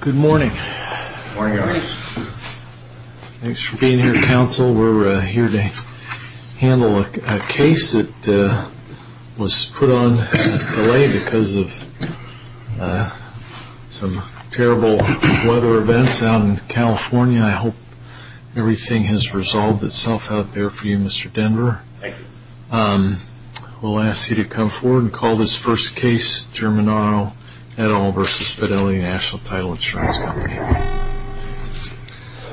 Good morning. Thanks for being here counsel. We're here to handle a case that was put on delay because of some terrible weather events out in California. I hope everything has resolved itself out there for you Mr. Denver. Thank you. We'll ask you to come forward and call this first case, Germinano et al. v. Fidelity National Title Insurance Company.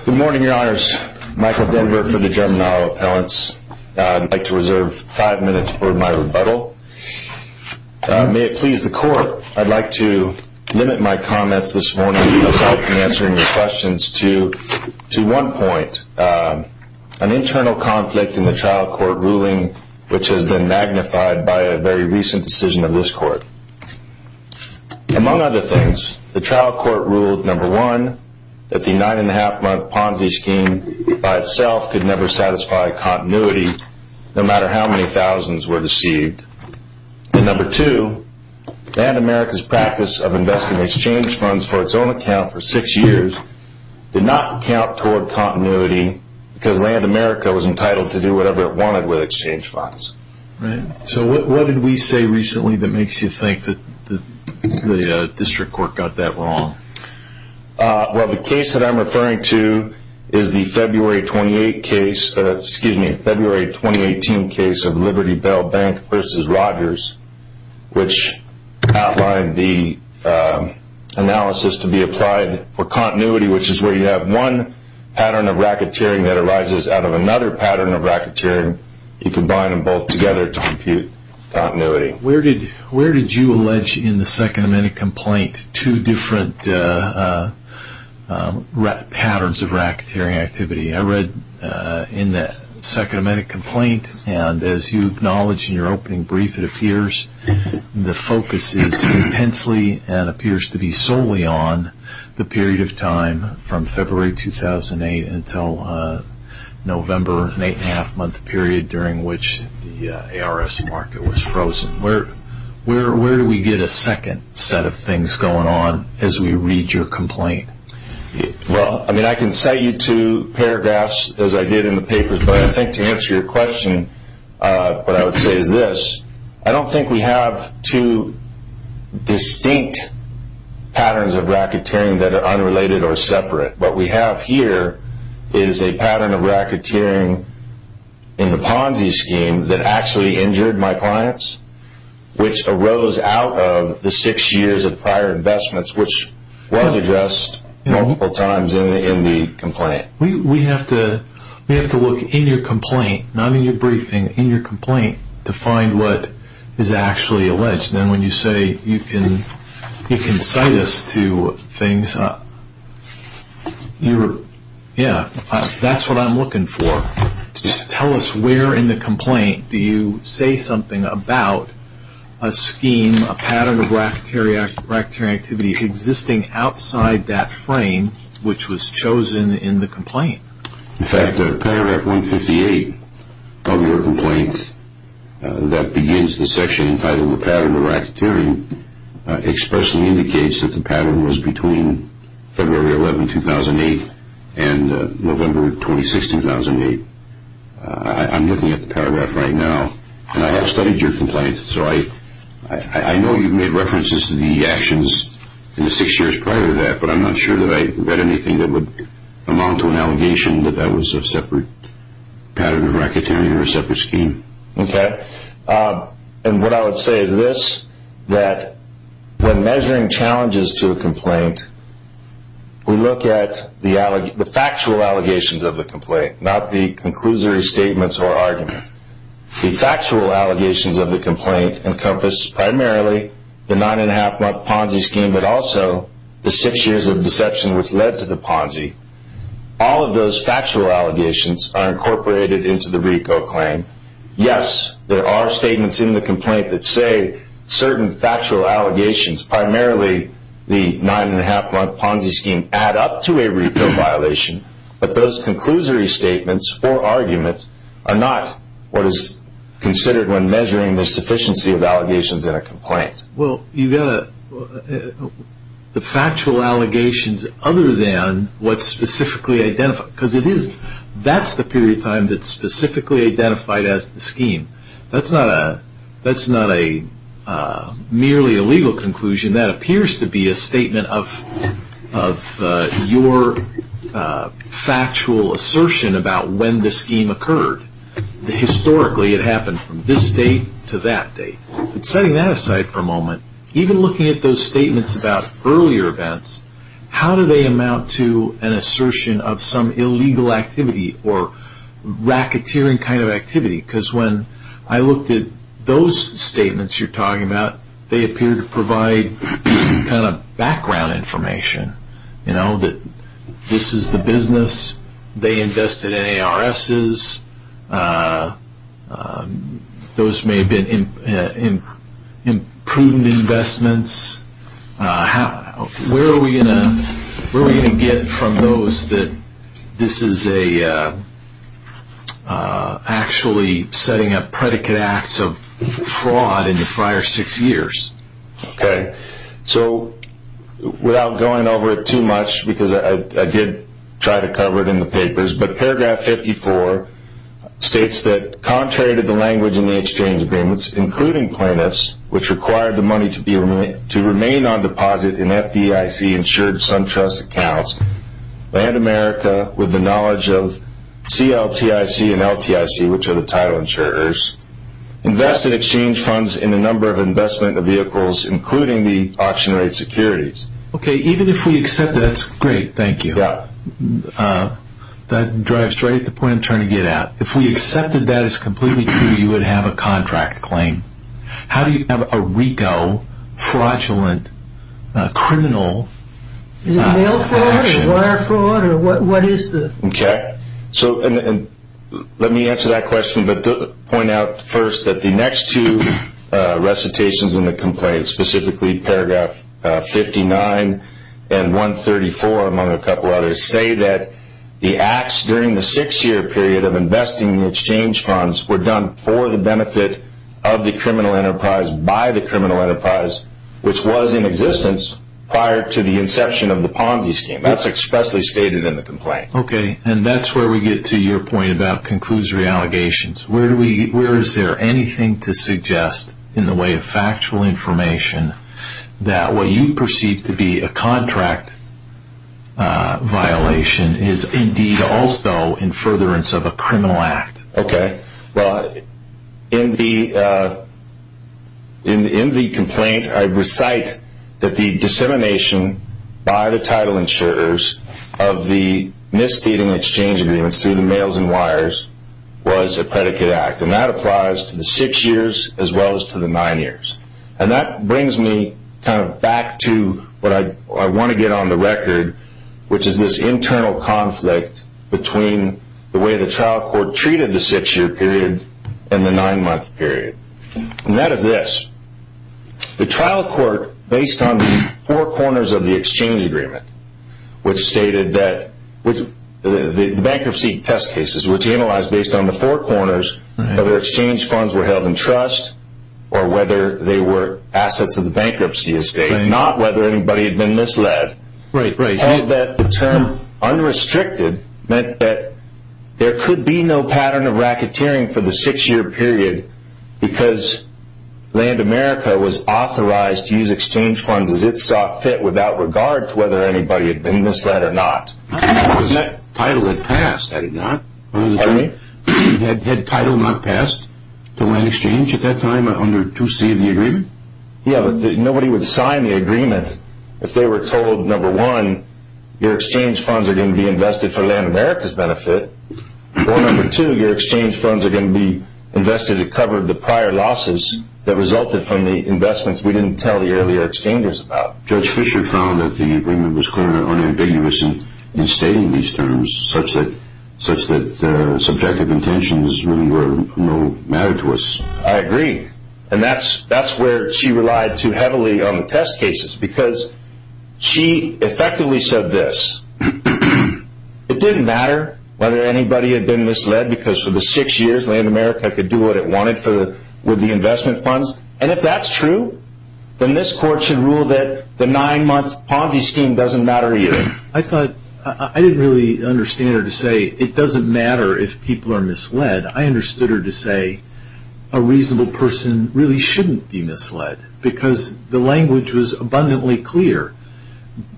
Good morning your honors. Michael Denver for the Germinano appellants. I'd like to reserve five minutes for my rebuttal. May it please the court, I'd like to limit my comments this morning as I've been answering your questions to one point. First, an internal conflict in the trial court ruling which has been magnified by a very recent decision of this court. Among other things, the trial court ruled, number one, that the nine and a half month Ponzi scheme by itself could never satisfy continuity no matter how many thousands were deceived. And number two, that America's practice of investing exchange funds for its own account for six years did not count toward continuity because land America was entitled to do whatever it wanted with exchange funds. So what did we say recently that makes you think that the district court got that wrong? Well, the case that I'm referring to is the February 2018 case of Liberty Bell Bank v. Rogers which outlined the analysis to be applied for continuity which is where you have one pattern of racketeering that arises out of another pattern of racketeering. You combine them both together to compute continuity. Where did you allege in the Second Amendment complaint two different patterns of racketeering activity? I read in the Second Amendment complaint and as you acknowledge in your opening brief it appears the focus is intensely and appears to be solely on the period of time from February 2008 until November, an eight and a half month period during which the ARS market was frozen. Where do we get a second set of things going on as we read your complaint? Well, I can cite you two paragraphs as I did in the papers but I think to answer your question what I would say is this. I don't think we have two distinct patterns of racketeering that are unrelated or separate. What we have here is a pattern of racketeering in the Ponzi scheme that actually injured my clients which arose out of the six years of prior investments which was addressed multiple times in the complaint. We have to look in your complaint, not in your briefing, in your complaint to find what is actually alleged. When you say you can cite us to things, that's what I'm looking for. Tell us where in the complaint do you say something about a scheme, a pattern of racketeering activity existing outside that frame which was chosen in the complaint? In fact, paragraph 158 of your complaint that begins the section entitled Pattern of Racketeering expressly indicates that the pattern was between February 11, 2008 and November 26, 2008. I'm looking at the paragraph right now and I have studied your complaint so I know you've made references to the actions in the six years prior to that but I'm not sure that I read anything that would amount to an allegation that that was a separate pattern of racketeering or a separate scheme. What I would say is this, that when measuring challenges to a complaint, we look at the factual allegations of the complaint, not the conclusory statements or argument. The factual allegations of the complaint encompass primarily the nine and a half month Ponzi scheme but also the six years of deception which led to the Ponzi. All of those factual allegations are incorporated into the RICO claim. Yes, there are statements in the complaint that say certain factual allegations, primarily the nine and a half month Ponzi scheme, add up to a RICO violation but those conclusory statements or arguments are not what is considered when measuring the sufficiency of allegations in a complaint. Well, you've got the factual allegations other than what's specifically identified because that's the period of time that's specifically identified as the scheme. That's not a merely a legal conclusion. That appears to be a statement of your factual assertion about when the scheme occurred. Historically, it happened from this date to that date. Setting that aside for a moment, even looking at those statements about earlier events, how do they amount to an assertion of some illegal activity or racketeering kind of activity? Because when I looked at those statements you're talking about, they appear to provide some kind of background information. That this is the business, they invested in ARSs, those may have been imprudent investments. Where are we going to get from those that this is actually setting up predicate acts of fraud in the prior six years? Okay, so without going over it too much because I did try to cover it in the papers, but paragraph 54 states that contrary to the language in the exchange agreements, including plaintiffs, which required the money to remain on deposit in FDIC insured SunTrust accounts, Land America, with the knowledge of CLTIC and LTIC, which are the title insurers, invested exchange funds in a number of investment vehicles, including the auction rate securities. Okay, even if we accept that, that's great, thank you. That drives straight to the point I'm trying to get at. If we accepted that as completely true, you would have a contract claim. How do you have a RICO fraudulent criminal? Is it mail fraud or wire fraud? Okay, so let me answer that question, but point out first that the next two recitations in the complaint, specifically paragraph 59 and 134, among a couple others, say that the acts during the six-year period of investing in the exchange funds were done for the benefit of the criminal enterprise by the criminal enterprise, which was in existence prior to the inception of the Ponzi scheme. That's expressly stated in the complaint. Okay, and that's where we get to your point about conclusory allegations. Where is there anything to suggest, in the way of factual information, that what you perceive to be a contract violation is indeed also in furtherance of a criminal act? Okay, well, in the complaint, I recite that the dissemination by the title insurers of the misstating exchange agreements through the mails and wires was a predicate act. And that applies to the six years as well as to the nine years. And that brings me kind of back to what I want to get on the record, which is this internal conflict between the way the trial court treated the six-year period and the nine-month period. And that is this. The trial court, based on the four corners of the exchange agreement, which stated that the bankruptcy test cases, which analyzed based on the four corners whether exchange funds were held in trust or whether they were assets of the bankruptcy estate, not whether anybody had been misled, held that the term unrestricted meant that there could be no pattern of racketeering for the six-year period because Land America was authorized to use exchange funds as it saw fit without regard to whether anybody had been misled or not. That title had passed, had it not? Pardon me? Had title not passed to Land Exchange at that time under 2C of the agreement? Yeah, but nobody would sign the agreement if they were told, number one, your exchange funds are going to be invested for Land America's benefit, or number two, your exchange funds are going to be invested to cover the prior losses that resulted from the investments we didn't tell the earlier exchangers about. Judge Fisher found that the agreement was clearly unambiguous in stating these terms, such that subjective intentions really were no matter to us. I agree. And that's where she relied too heavily on the test cases because she effectively said this. It didn't matter whether anybody had been misled because for the six years, Land America could do what it wanted with the investment funds, and if that's true, then this court should rule that the nine-month Ponzi scheme doesn't matter either. I didn't really understand her to say it doesn't matter if people are misled. I understood her to say a reasonable person really shouldn't be misled because the language was abundantly clear.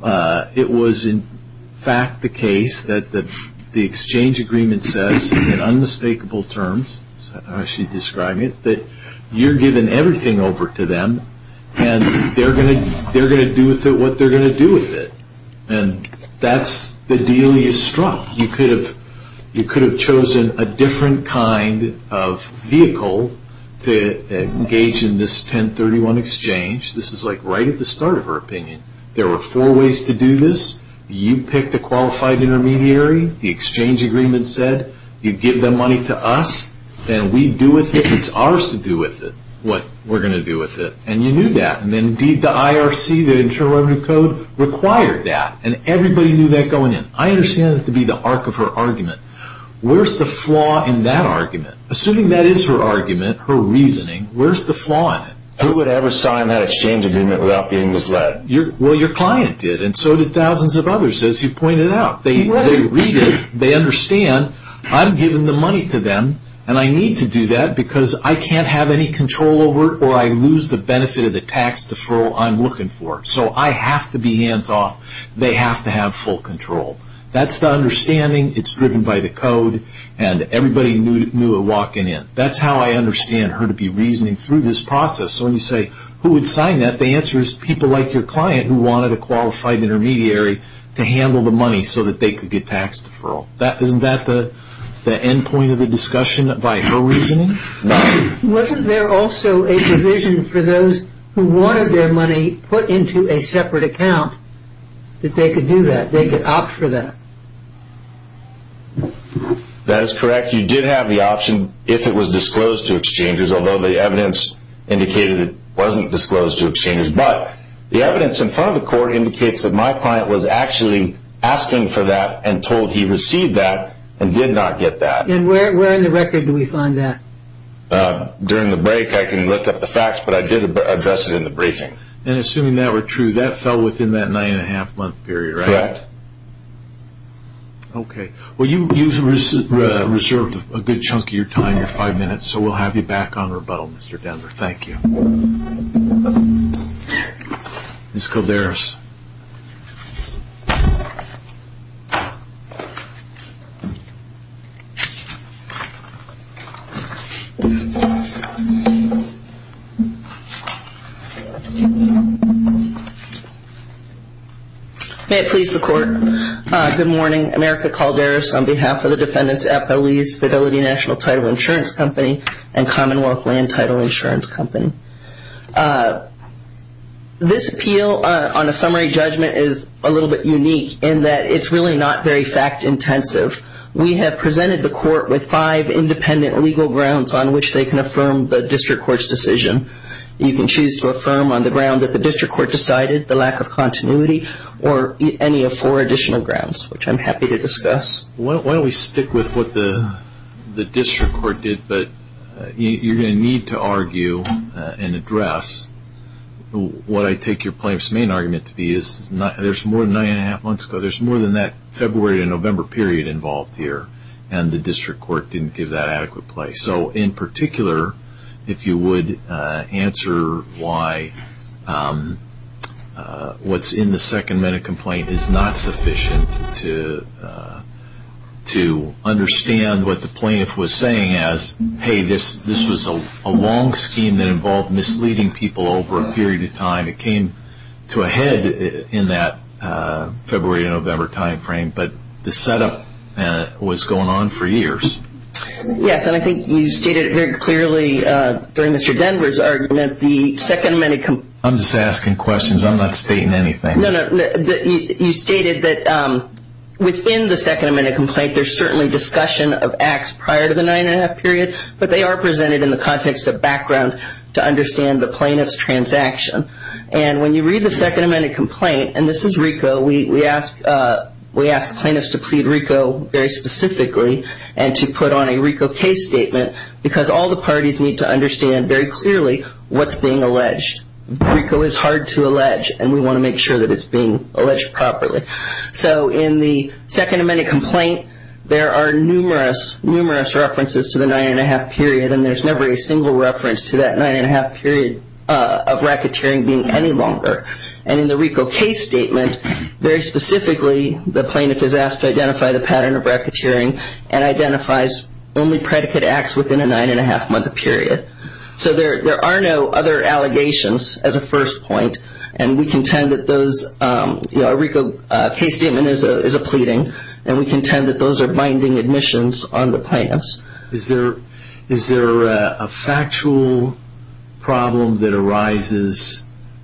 It was in fact the case that the exchange agreement says in unmistakable terms, as she described it, that you're giving everything over to them, and they're going to do with it what they're going to do with it. And that's the deal you struck. You could have chosen a different kind of vehicle to engage in this 1031 exchange. This is like right at the start of her opinion. There were four ways to do this. You pick the qualified intermediary, the exchange agreement said. You give the money to us, and we do with it what's ours to do with it, what we're going to do with it. And you knew that, and indeed the IRC, the Internal Revenue Code, required that, and everybody knew that going in. I understand that to be the arc of her argument. Where's the flaw in that argument? Assuming that is her argument, her reasoning, where's the flaw in it? Who would ever sign that exchange agreement without being misled? Well, your client did, and so did thousands of others, as you pointed out. They read it. They understand. I'm giving the money to them, and I need to do that because I can't have any control over it or I lose the benefit of the tax deferral I'm looking for. So I have to be hands-off. They have to have full control. That's the understanding. It's driven by the code, and everybody knew it walking in. That's how I understand her to be reasoning through this process. So when you say, who would sign that? The answer is people like your client who wanted a qualified intermediary to handle the money so that they could get tax deferral. Isn't that the end point of the discussion by her reasoning? Wasn't there also a provision for those who wanted their money put into a separate account that they could do that, they could opt for that? That is correct. You did have the option if it was disclosed to exchangers, although the evidence indicated it wasn't disclosed to exchangers. But the evidence in front of the court indicates that my client was actually asking for that and told he received that and did not get that. And where in the record do we find that? During the break, I can lift up the facts, but I did address it in the briefing. And assuming that were true, that fell within that nine-and-a-half-month period, right? Correct. Okay. Well, you reserved a good chunk of your time, your five minutes, so we'll have you back on rebuttal, Mr. Denver. Thank you. Ms. Calderas. May it please the Court, good morning. I'm Erica Calderas on behalf of the Defendants' Appellees, Fidelity National Title Insurance Company, and Commonwealth Land Title Insurance Company. This appeal on a summary judgment is a little bit unique in that it's really not very fact-intensive. We have presented the court with five independent legal grounds on which they can affirm the district court's decision. You can choose to affirm on the ground that the district court decided, the lack of continuity, or any of four additional grounds, which I'm happy to discuss. Why don't we stick with what the district court did? But you're going to need to argue and address what I take your plaintiff's main argument to be. There's more than nine-and-a-half months ago. There's more than that February to November period involved here, and the district court didn't give that adequate place. So in particular, if you would, answer why what's in the second-minute complaint is not sufficient to understand what the plaintiff was saying as, hey, this was a long scheme that involved misleading people over a period of time. It came to a head in that February to November timeframe, but the setup was going on for years. Yes, and I think you stated it very clearly during Mr. Denver's argument, the second-minute complaint. I'm just asking questions. I'm not stating anything. No, no. You stated that within the second-minute complaint, there's certainly discussion of acts prior to the nine-and-a-half period, but they are presented in the context of background to understand the plaintiff's transaction. And when you read the second-minute complaint, and this is RICO, we ask plaintiffs to plead RICO very specifically and to put on a RICO case statement because all the parties need to understand very clearly what's being alleged. RICO is hard to allege, and we want to make sure that it's being alleged properly. So in the second-minute complaint, there are numerous, numerous references to the nine-and-a-half period, and there's never a single reference to that nine-and-a-half period of racketeering being any longer. And in the RICO case statement, very specifically, the plaintiff is asked to identify the pattern of racketeering and identifies only predicate acts within a nine-and-a-half-month period. So there are no other allegations as a first point, and we contend that those, you know, a RICO case statement is a pleading, and we contend that those are binding admissions on the plaintiffs. Is there a factual problem that arises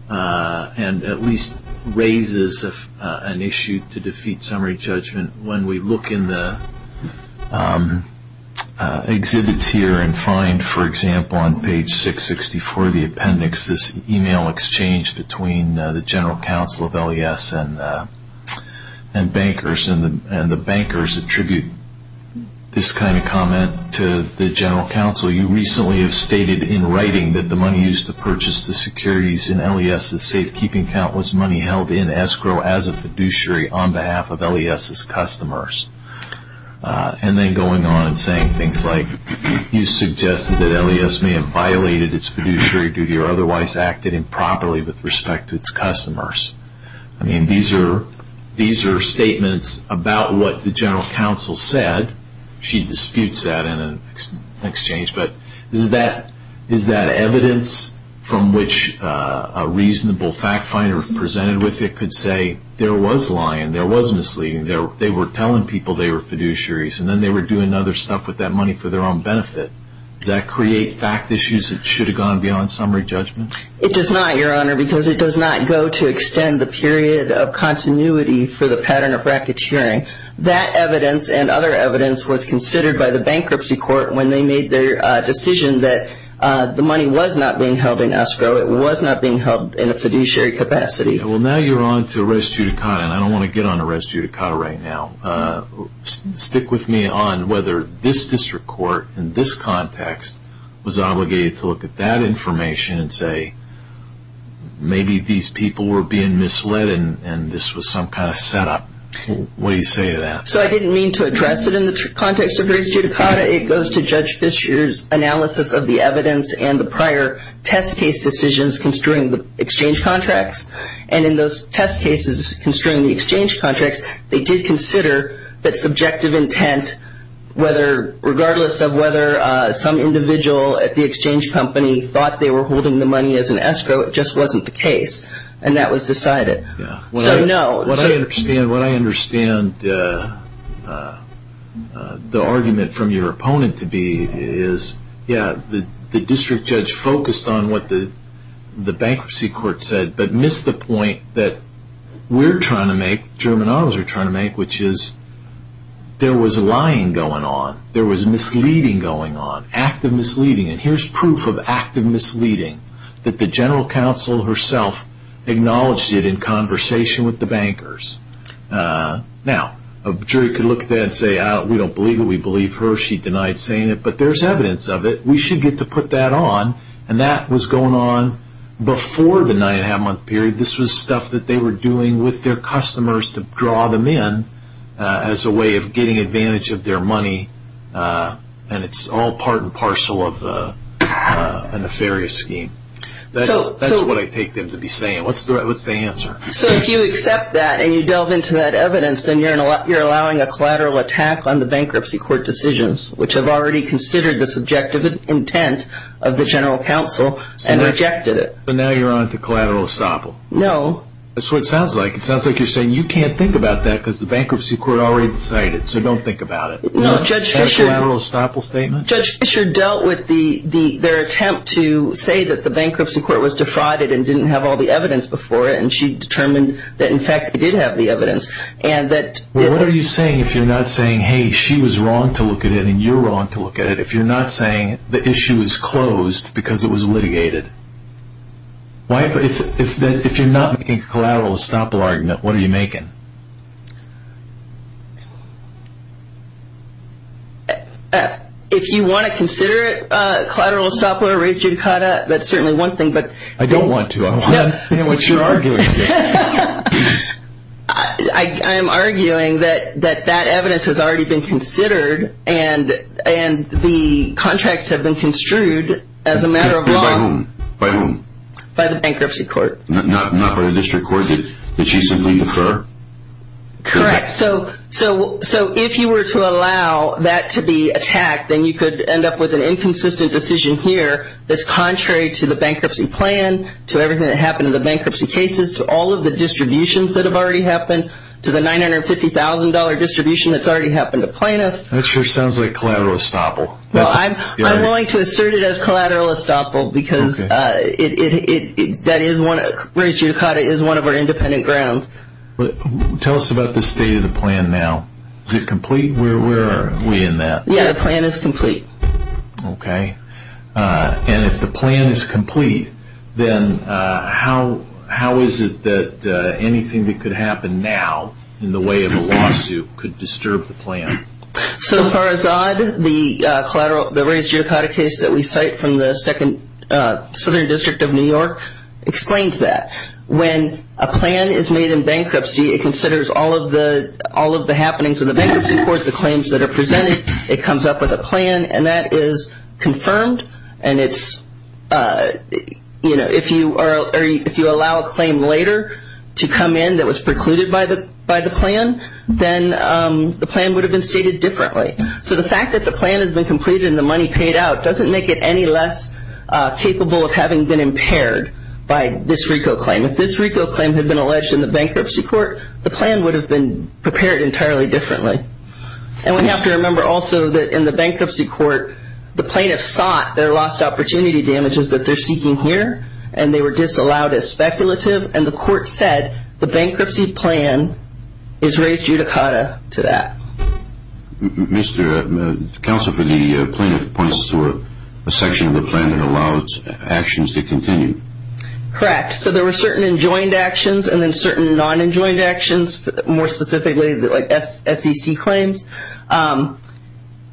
and at least raises an issue to defeat summary judgment when we look in the exhibits here and find, for example, on page 664 of the appendix, this email exchange between the general counsel of LES and bankers, attribute this kind of comment to the general counsel. You recently have stated in writing that the money used to purchase the securities in LES's safekeeping account was money held in escrow as a fiduciary on behalf of LES's customers. And then going on and saying things like, you suggested that LES may have violated its fiduciary duty or otherwise acted improperly with respect to its customers. I mean, these are statements about what the general counsel said. She disputes that in an exchange, but is that evidence from which a reasonable fact finder presented with it could say there was lying, there was misleading, they were telling people they were fiduciaries, and then they were doing other stuff with that money for their own benefit. Does that create fact issues that should have gone beyond summary judgment? It does not, Your Honor, because it does not go to extend the period of continuity for the pattern of racketeering. That evidence and other evidence was considered by the bankruptcy court when they made their decision that the money was not being held in escrow. It was not being held in a fiduciary capacity. Well, now you're on to res judicata, and I don't want to get on to res judicata right now. Stick with me on whether this district court in this context was obligated to look at that information and say maybe these people were being misled and this was some kind of setup. What do you say to that? So I didn't mean to address it in the context of res judicata. It goes to Judge Fischer's analysis of the evidence and the prior test case decisions concerning the exchange contracts, and in those test cases concerning the exchange contracts, they did consider that subjective intent, regardless of whether some individual at the exchange company thought they were holding the money as an escrow. It just wasn't the case, and that was decided. What I understand the argument from your opponent to be is, yeah, the district judge focused on what the bankruptcy court said but missed the point that we're trying to make, German autos are trying to make, which is there was lying going on. There was misleading going on, active misleading. And here's proof of active misleading that the general counsel herself acknowledged it in conversation with the bankers. Now, a jury could look at that and say, we don't believe it, we believe her. She denied saying it, but there's evidence of it. We should get to put that on, and that was going on before the nine-and-a-half-month period. This was stuff that they were doing with their customers to draw them in as a way of getting advantage of their money, and it's all part and parcel of a nefarious scheme. That's what I take them to be saying. What's the answer? So if you accept that and you delve into that evidence, then you're allowing a collateral attack on the bankruptcy court decisions, which have already considered the subjective intent of the general counsel and rejected it. So now you're on to collateral estoppel. No. That's what it sounds like. It sounds like you're saying you can't think about that because the bankruptcy court already decided, so don't think about it. No, Judge Fisher dealt with their attempt to say that the bankruptcy court was defrauded and didn't have all the evidence before it, and she determined that, in fact, they did have the evidence. What are you saying if you're not saying, hey, she was wrong to look at it and you're wrong to look at it, if you're not saying the issue is closed because it was litigated? If you're not making a collateral estoppel argument, what are you making? If you want to consider it, collateral estoppel or a rate judicata, that's certainly one thing. I don't want to. What's your argument? I'm arguing that that evidence has already been considered and the contracts have been construed as a matter of law. By whom? By the bankruptcy court. Not by the district court? Did she simply defer? Correct. If you were to allow that to be attacked, then you could end up with an inconsistent decision here that's contrary to the bankruptcy plan, to everything that happened in the bankruptcy cases, to all of the distributions that have already happened, to the $950,000 distribution that's already happened to plaintiffs. That sure sounds like collateral estoppel. I'm willing to assert it as collateral estoppel because rate judicata is one of our independent grounds. Tell us about the state of the plan now. Is it complete? Where are we in that? The plan is complete. Okay. And if the plan is complete, then how is it that anything that could happen now in the way of a lawsuit could disturb the plan? So far as odd, the rate judicata case that we cite from the Southern District of New York explains that. When a plan is made in bankruptcy, it considers all of the happenings in the bankruptcy court, the claims that are presented, it comes up with a plan, and that is confirmed. And if you allow a claim later to come in that was precluded by the plan, then the plan would have been stated differently. So the fact that the plan has been completed and the money paid out doesn't make it any less capable of having been impaired by this RICO claim. If this RICO claim had been alleged in the bankruptcy court, the plan would have been prepared entirely differently. And we have to remember also that in the bankruptcy court, the plaintiffs sought their lost opportunity damages that they're seeking here, and they were disallowed as speculative, and the court said the bankruptcy plan is raised judicata to that. Counsel for the plaintiff points to a section of the plan that allows actions to continue. Correct. So there were certain enjoined actions and then certain non-enjoined actions, more specifically the SEC claims.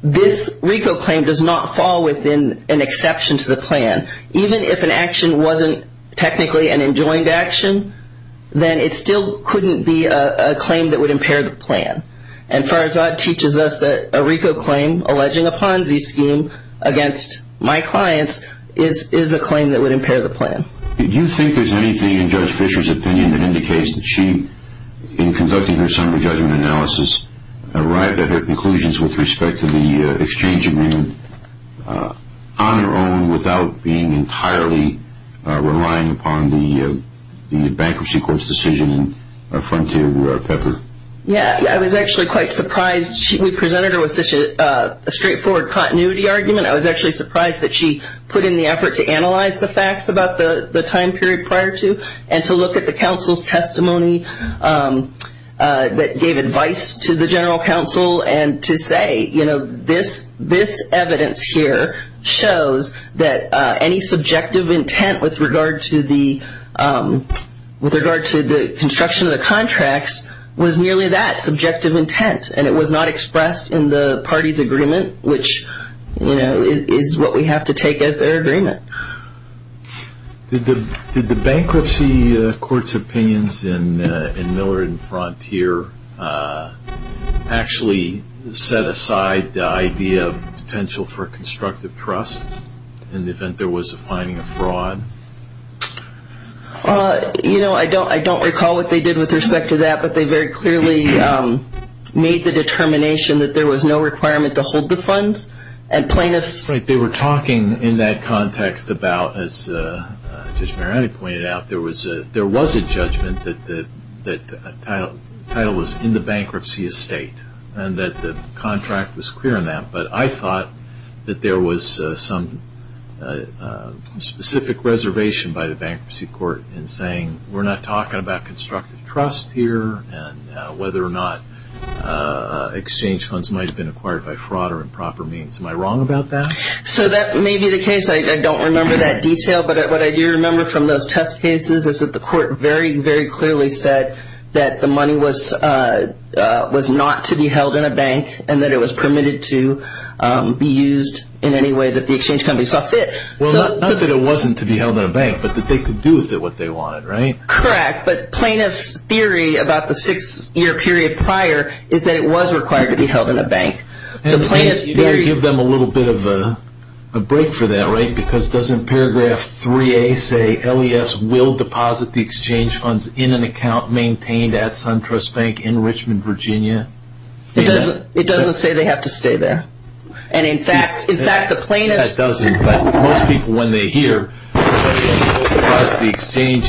This RICO claim does not fall within an exception to the plan. Even if an action wasn't technically an enjoined action, then it still couldn't be a claim that would impair the plan. And Farzad teaches us that a RICO claim alleging a Ponzi scheme against my clients is a claim that would impair the plan. Do you think there's anything in Judge Fisher's opinion that indicates that she, in conducting her summary judgment analysis, arrived at her conclusions with respect to the exchange agreement on her own without being entirely relying upon the bankruptcy court's decision in Frontier Pepper? Yeah, I was actually quite surprised. We presented her with such a straightforward continuity argument. I was actually surprised that she put in the effort to analyze the facts about the time period prior to and to look at the counsel's testimony that gave advice to the general counsel and to say, you know, this evidence here shows that any subjective intent with regard to the construction of the contracts was nearly that, subjective intent, and it was not expressed in the party's agreement, which, you know, is what we have to take as their agreement. Did the bankruptcy court's opinions in Miller and Frontier actually set aside the idea of potential for constructive trust in the event there was a finding of fraud? You know, I don't recall what they did with respect to that, but they very clearly made the determination that there was no requirement to hold the funds and plaintiffs. They were talking in that context about, as Judge Mariani pointed out, there was a judgment that the title was in the bankruptcy estate and that the contract was clear on that, but I thought that there was some specific reservation by the bankruptcy court in saying, we're not talking about constructive trust here, and whether or not exchange funds might have been acquired by fraud or improper means. Am I wrong about that? So that may be the case. I don't remember that detail, but what I do remember from those test cases is that the court very, very clearly said that the money was not to be held in a bank and that it was permitted to be used in any way that the exchange companies saw fit. Well, not that it wasn't to be held in a bank, but that they could do with it what they wanted, right? Correct. But plaintiffs' theory about the six-year period prior is that it was required to be held in a bank. You've got to give them a little bit of a break for that, right? Because doesn't paragraph 3A say, LES will deposit the exchange funds in an account maintained at SunTrust Bank in Richmond, Virginia? It doesn't say they have to stay there. And, in fact, the plaintiffs' It doesn't, but most people, when they hear, deposit the exchange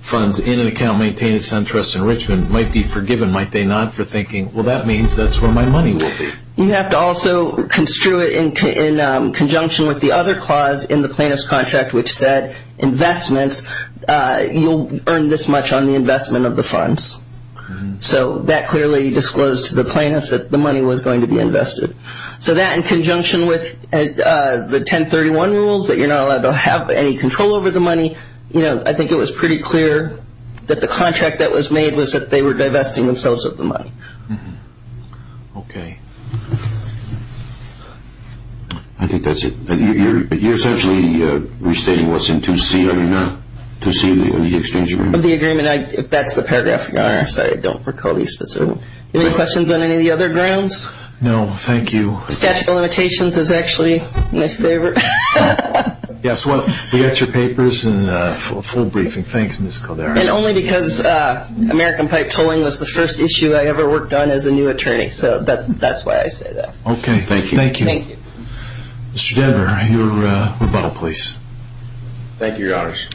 funds in an account maintained at SunTrust in Richmond, might be forgiven, might they not, for thinking, well, that means that's where my money will be. You have to also construe it in conjunction with the other clause in the plaintiff's contract, which said investments, you'll earn this much on the investment of the funds. So that clearly disclosed to the plaintiffs that the money was going to be invested. So that, in conjunction with the 1031 rules, that you're not allowed to have any control over the money, I think it was pretty clear that the contract that was made was that they were divesting themselves of the money. Okay. I think that's it. You're essentially restating what's in 2C, are you not? 2C of the exchange agreement. 2C of the agreement. If that's the paragraph, Your Honor, I'm sorry, I don't recall the specifics. Any questions on any of the other grounds? No, thank you. Statute of limitations is actually my favorite. Yes, well, we got your papers and full briefing. Thanks, Ms. Calderon. And only because American pipe tolling was the first issue I ever worked on as a new attorney, so that's why I say that. Okay, thank you. Thank you. Mr. Denver, your rebuttal, please. Thank you, Your Honors.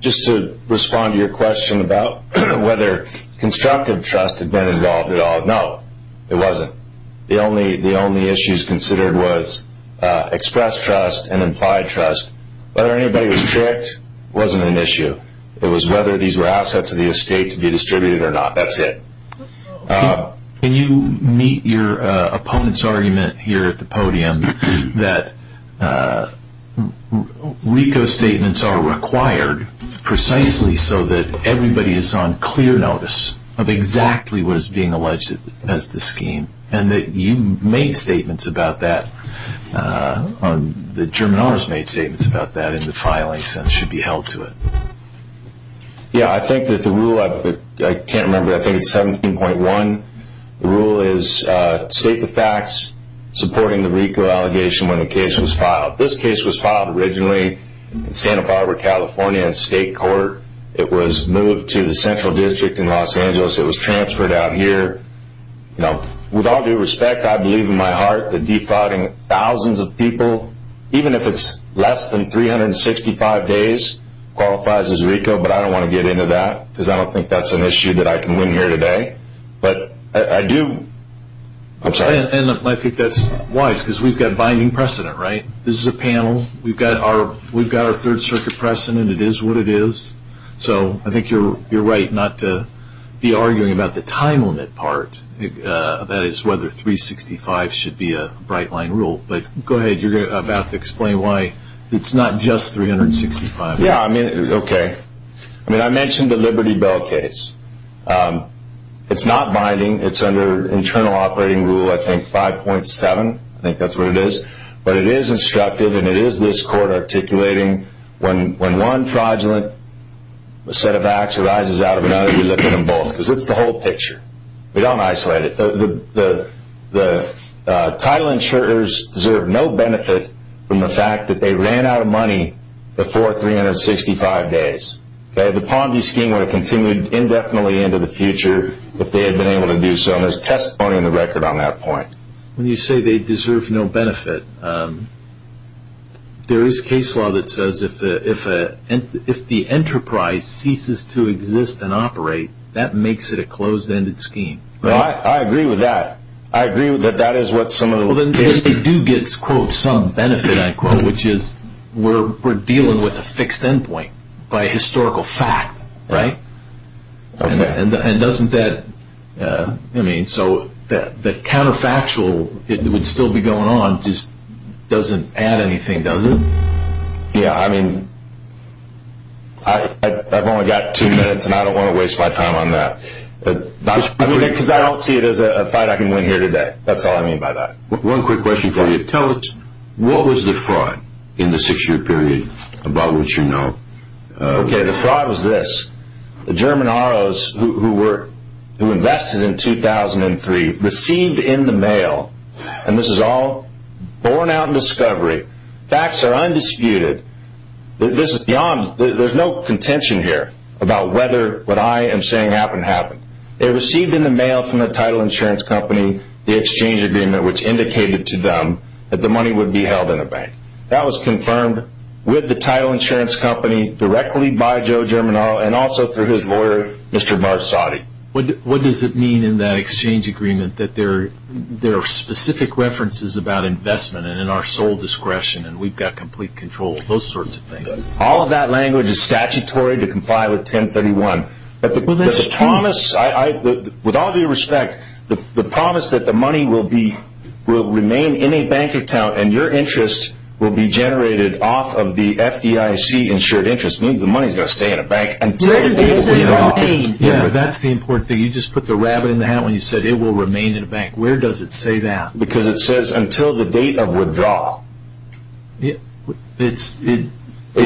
Just to respond to your question about whether constructive trust had been involved at all. No, it wasn't. The only issues considered was express trust and implied trust. Whether anybody was tricked wasn't an issue. It was whether these were assets of the estate to be distributed or not. That's it. Can you meet your opponent's argument here at the podium that RICO statements are required precisely so that everybody is on clear notice of exactly what is being alleged as the scheme and that you made statements about that, that German honors made statements about that in the filings and should be held to it? Yeah, I think that the rule, I can't remember, I think it's 17.1, the rule is state the facts supporting the RICO allegation when the case was filed. This case was filed originally in Santa Barbara, California in state court. It was moved to the Central District in Los Angeles. It was transferred out here. With all due respect, I believe in my heart that defrauding thousands of people, even if it's less than 365 days, qualifies as RICO, but I don't want to get into that because I don't think that's an issue that I can win here today. But I do, I'm sorry. And I think that's wise because we've got binding precedent, right? This is a panel. We've got our Third Circuit precedent. It is what it is. So I think you're right not to be arguing about the time limit part, that is whether 365 should be a bright line rule. But go ahead. You're about to explain why it's not just 365. Yeah, I mean, okay. I mean, I mentioned the Liberty Bell case. It's not binding. It's under internal operating rule, I think, 5.7. I think that's what it is. But it is instructive and it is this court articulating when one fraudulent set of acts arises out of another, you look at them both because it's the whole picture. We don't isolate it. The title insurers deserve no benefit from the fact that they ran out of money before 365 days. The Ponzi scheme would have continued indefinitely into the future if they had been able to do so. And there's testimony in the record on that point. When you say they deserve no benefit, there is case law that says if the enterprise ceases to exist and operate, that makes it a closed-ended scheme. I agree with that. I agree that that is what some of the— Well, then they do get, quote, some benefit, I quote, which is we're dealing with a fixed endpoint by historical fact, right? Okay. And doesn't that—I mean, so the counterfactual that would still be going on just doesn't add anything, does it? Yeah, I mean, I've only got two minutes, and I don't want to waste my time on that. Because I don't see it as a fight I can win here today. That's all I mean by that. One quick question for you. Tell us, what was the fraud in the six-year period about which you know— Okay, the fraud was this. The German ROs who invested in 2003 received in the mail, and this is all borne out in discovery. Facts are undisputed. This is beyond—there's no contention here about whether what I am saying happened happened. They received in the mail from the title insurance company the exchange agreement, which indicated to them that the money would be held in a bank. That was confirmed with the title insurance company directly by Joe Germinal and also through his lawyer, Mr. Marsotti. What does it mean in that exchange agreement that there are specific references about investment and in our sole discretion and we've got complete control of those sorts of things? All of that language is statutory to comply with 1031. But the promise—with all due respect, the promise that the money will remain in a bank account and your interest will be generated off of the FDIC-insured interest means the money's going to stay in a bank. Yeah, that's the important thing. You just put the rabbit in the hat when you said it will remain in a bank. Where does it say that? Because it says until the date of withdrawal. It's— It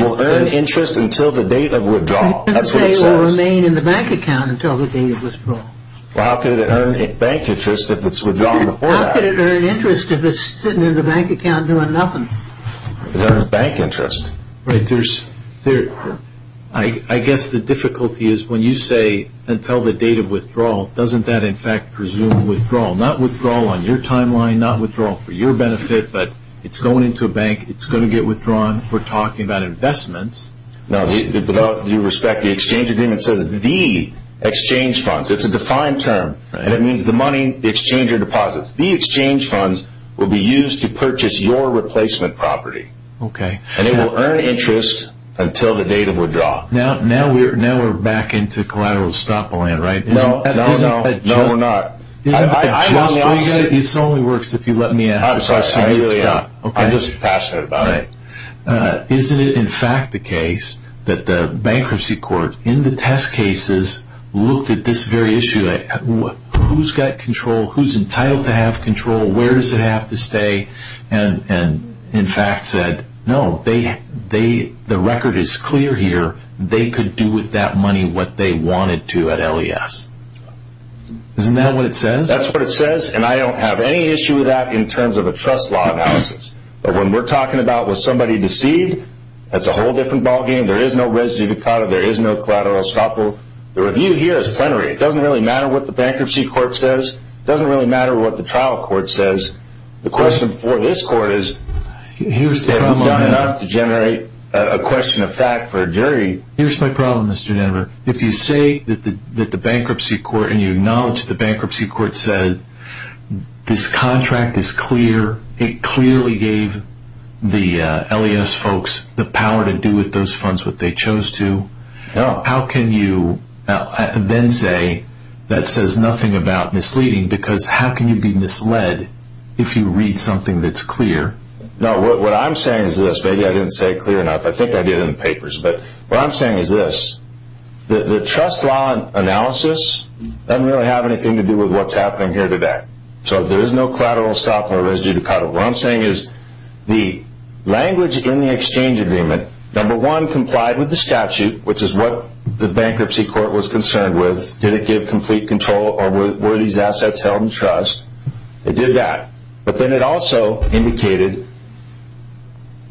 will earn interest until the date of withdrawal. That's what it says. You didn't say it will remain in the bank account until the date of withdrawal. Well, how could it earn bank interest if it's withdrawn before that? How could it earn interest if it's sitting in the bank account doing nothing? It earns bank interest. Right, there's—I guess the difficulty is when you say until the date of withdrawal, doesn't that, in fact, presume withdrawal? Not withdrawal on your timeline, not withdrawal for your benefit, but it's going into a bank, it's going to get withdrawn. We're talking about investments. Now, with all due respect, the exchange agreement says the exchange funds. It's a defined term, and it means the money the exchanger deposits. The exchange funds will be used to purchase your replacement property. Okay. And it will earn interest until the date of withdrawal. Now we're back into collateral estoppeling, right? No, no, no. No, we're not. I lost— This only works if you let me ask a question. I'm just passionate about it. Isn't it, in fact, the case that the bankruptcy court, in the test cases, looked at this very issue, who's got control, who's entitled to have control, where does it have to stay, and, in fact, said, no, the record is clear here. They could do with that money what they wanted to at LES. Isn't that what it says? That's what it says, and I don't have any issue with that in terms of a trust law analysis. But when we're talking about was somebody deceived, that's a whole different ballgame. There is no res divicata. There is no collateral estoppel. The review here is plenary. It doesn't really matter what the bankruptcy court says. It doesn't really matter what the trial court says. The question for this court is, have you done enough to generate a question of fact for a jury? Here's my problem, Mr. Denver. If you say that the bankruptcy court, and you acknowledge the bankruptcy court, said this contract is clear, it clearly gave the LES folks the power to do with those funds what they chose to, how can you then say that says nothing about misleading? Because how can you be misled if you read something that's clear? No, what I'm saying is this. Maybe I didn't say it clear enough. I think I did in the papers. But what I'm saying is this. The trust law analysis doesn't really have anything to do with what's happening here today. So there is no collateral estoppel or res divicata. What I'm saying is the language in the exchange agreement, number one, complied with the statute, which is what the bankruptcy court was concerned with. Did it give complete control or were these assets held in trust? It did that. But then it also indicated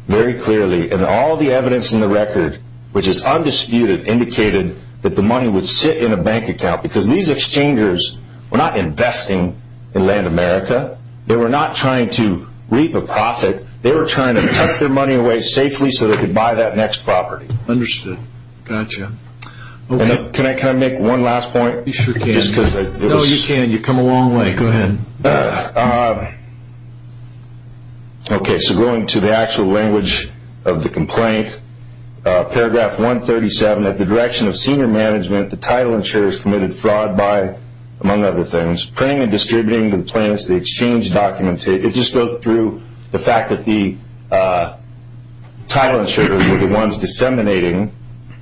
very clearly in all the evidence in the record, which is undisputed, indicated that the money would sit in a bank account. Because these exchangers were not investing in land America. They were not trying to reap a profit. They were trying to tuck their money away safely so they could buy that next property. Understood. Gotcha. Can I make one last point? You sure can. No, you can. You've come a long way. Go ahead. Okay, so going to the actual language of the complaint, paragraph 137, at the direction of senior management, the title insurers committed fraud by, among other things, printing and distributing the plaintiffs' exchange documents. It just goes through the fact that the title insurers were the ones disseminating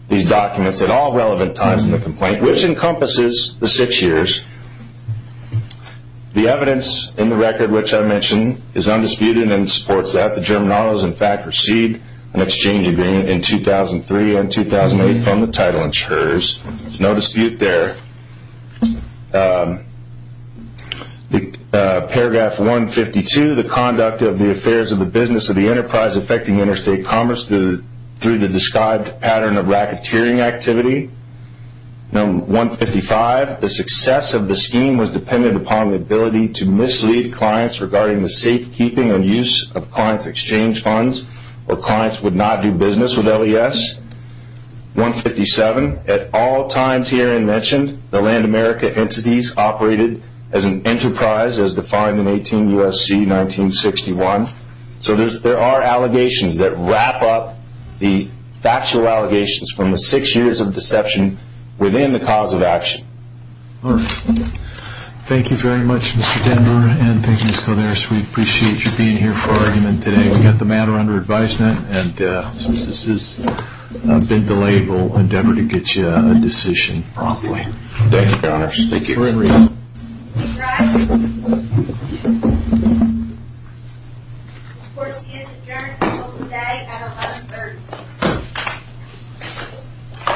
these documents at all relevant times in the complaint, which encompasses the six years. The evidence in the record, which I mentioned, is undisputed and supports that. The German auto has, in fact, received an exchange agreement in 2003 and 2008 from the title insurers. There's no dispute there. Paragraph 152, the conduct of the affairs of the business of the enterprise affecting interstate commerce through the described pattern of racketeering activity. Number 155, the success of the scheme was dependent upon the ability to mislead clients regarding the safekeeping and use of clients' exchange funds or clients would not do business with LES. 157, at all times here and mentioned, the Land America entities operated as an enterprise as defined in 18 U.S.C. 1961. So there are allegations that wrap up the factual allegations from the six years of deception within the cause of action. All right. Thank you very much, Mr. Denver, and thank you, Ms. Calderas. We appreciate you being here for our argument today. We've got the matter under advisement, and since this has been delayed, we'll endeavor to get you a decision promptly. Thank you, Mr. Connors. Thank you. For any reason. All right. Of course, he is adjourned until today at 1130.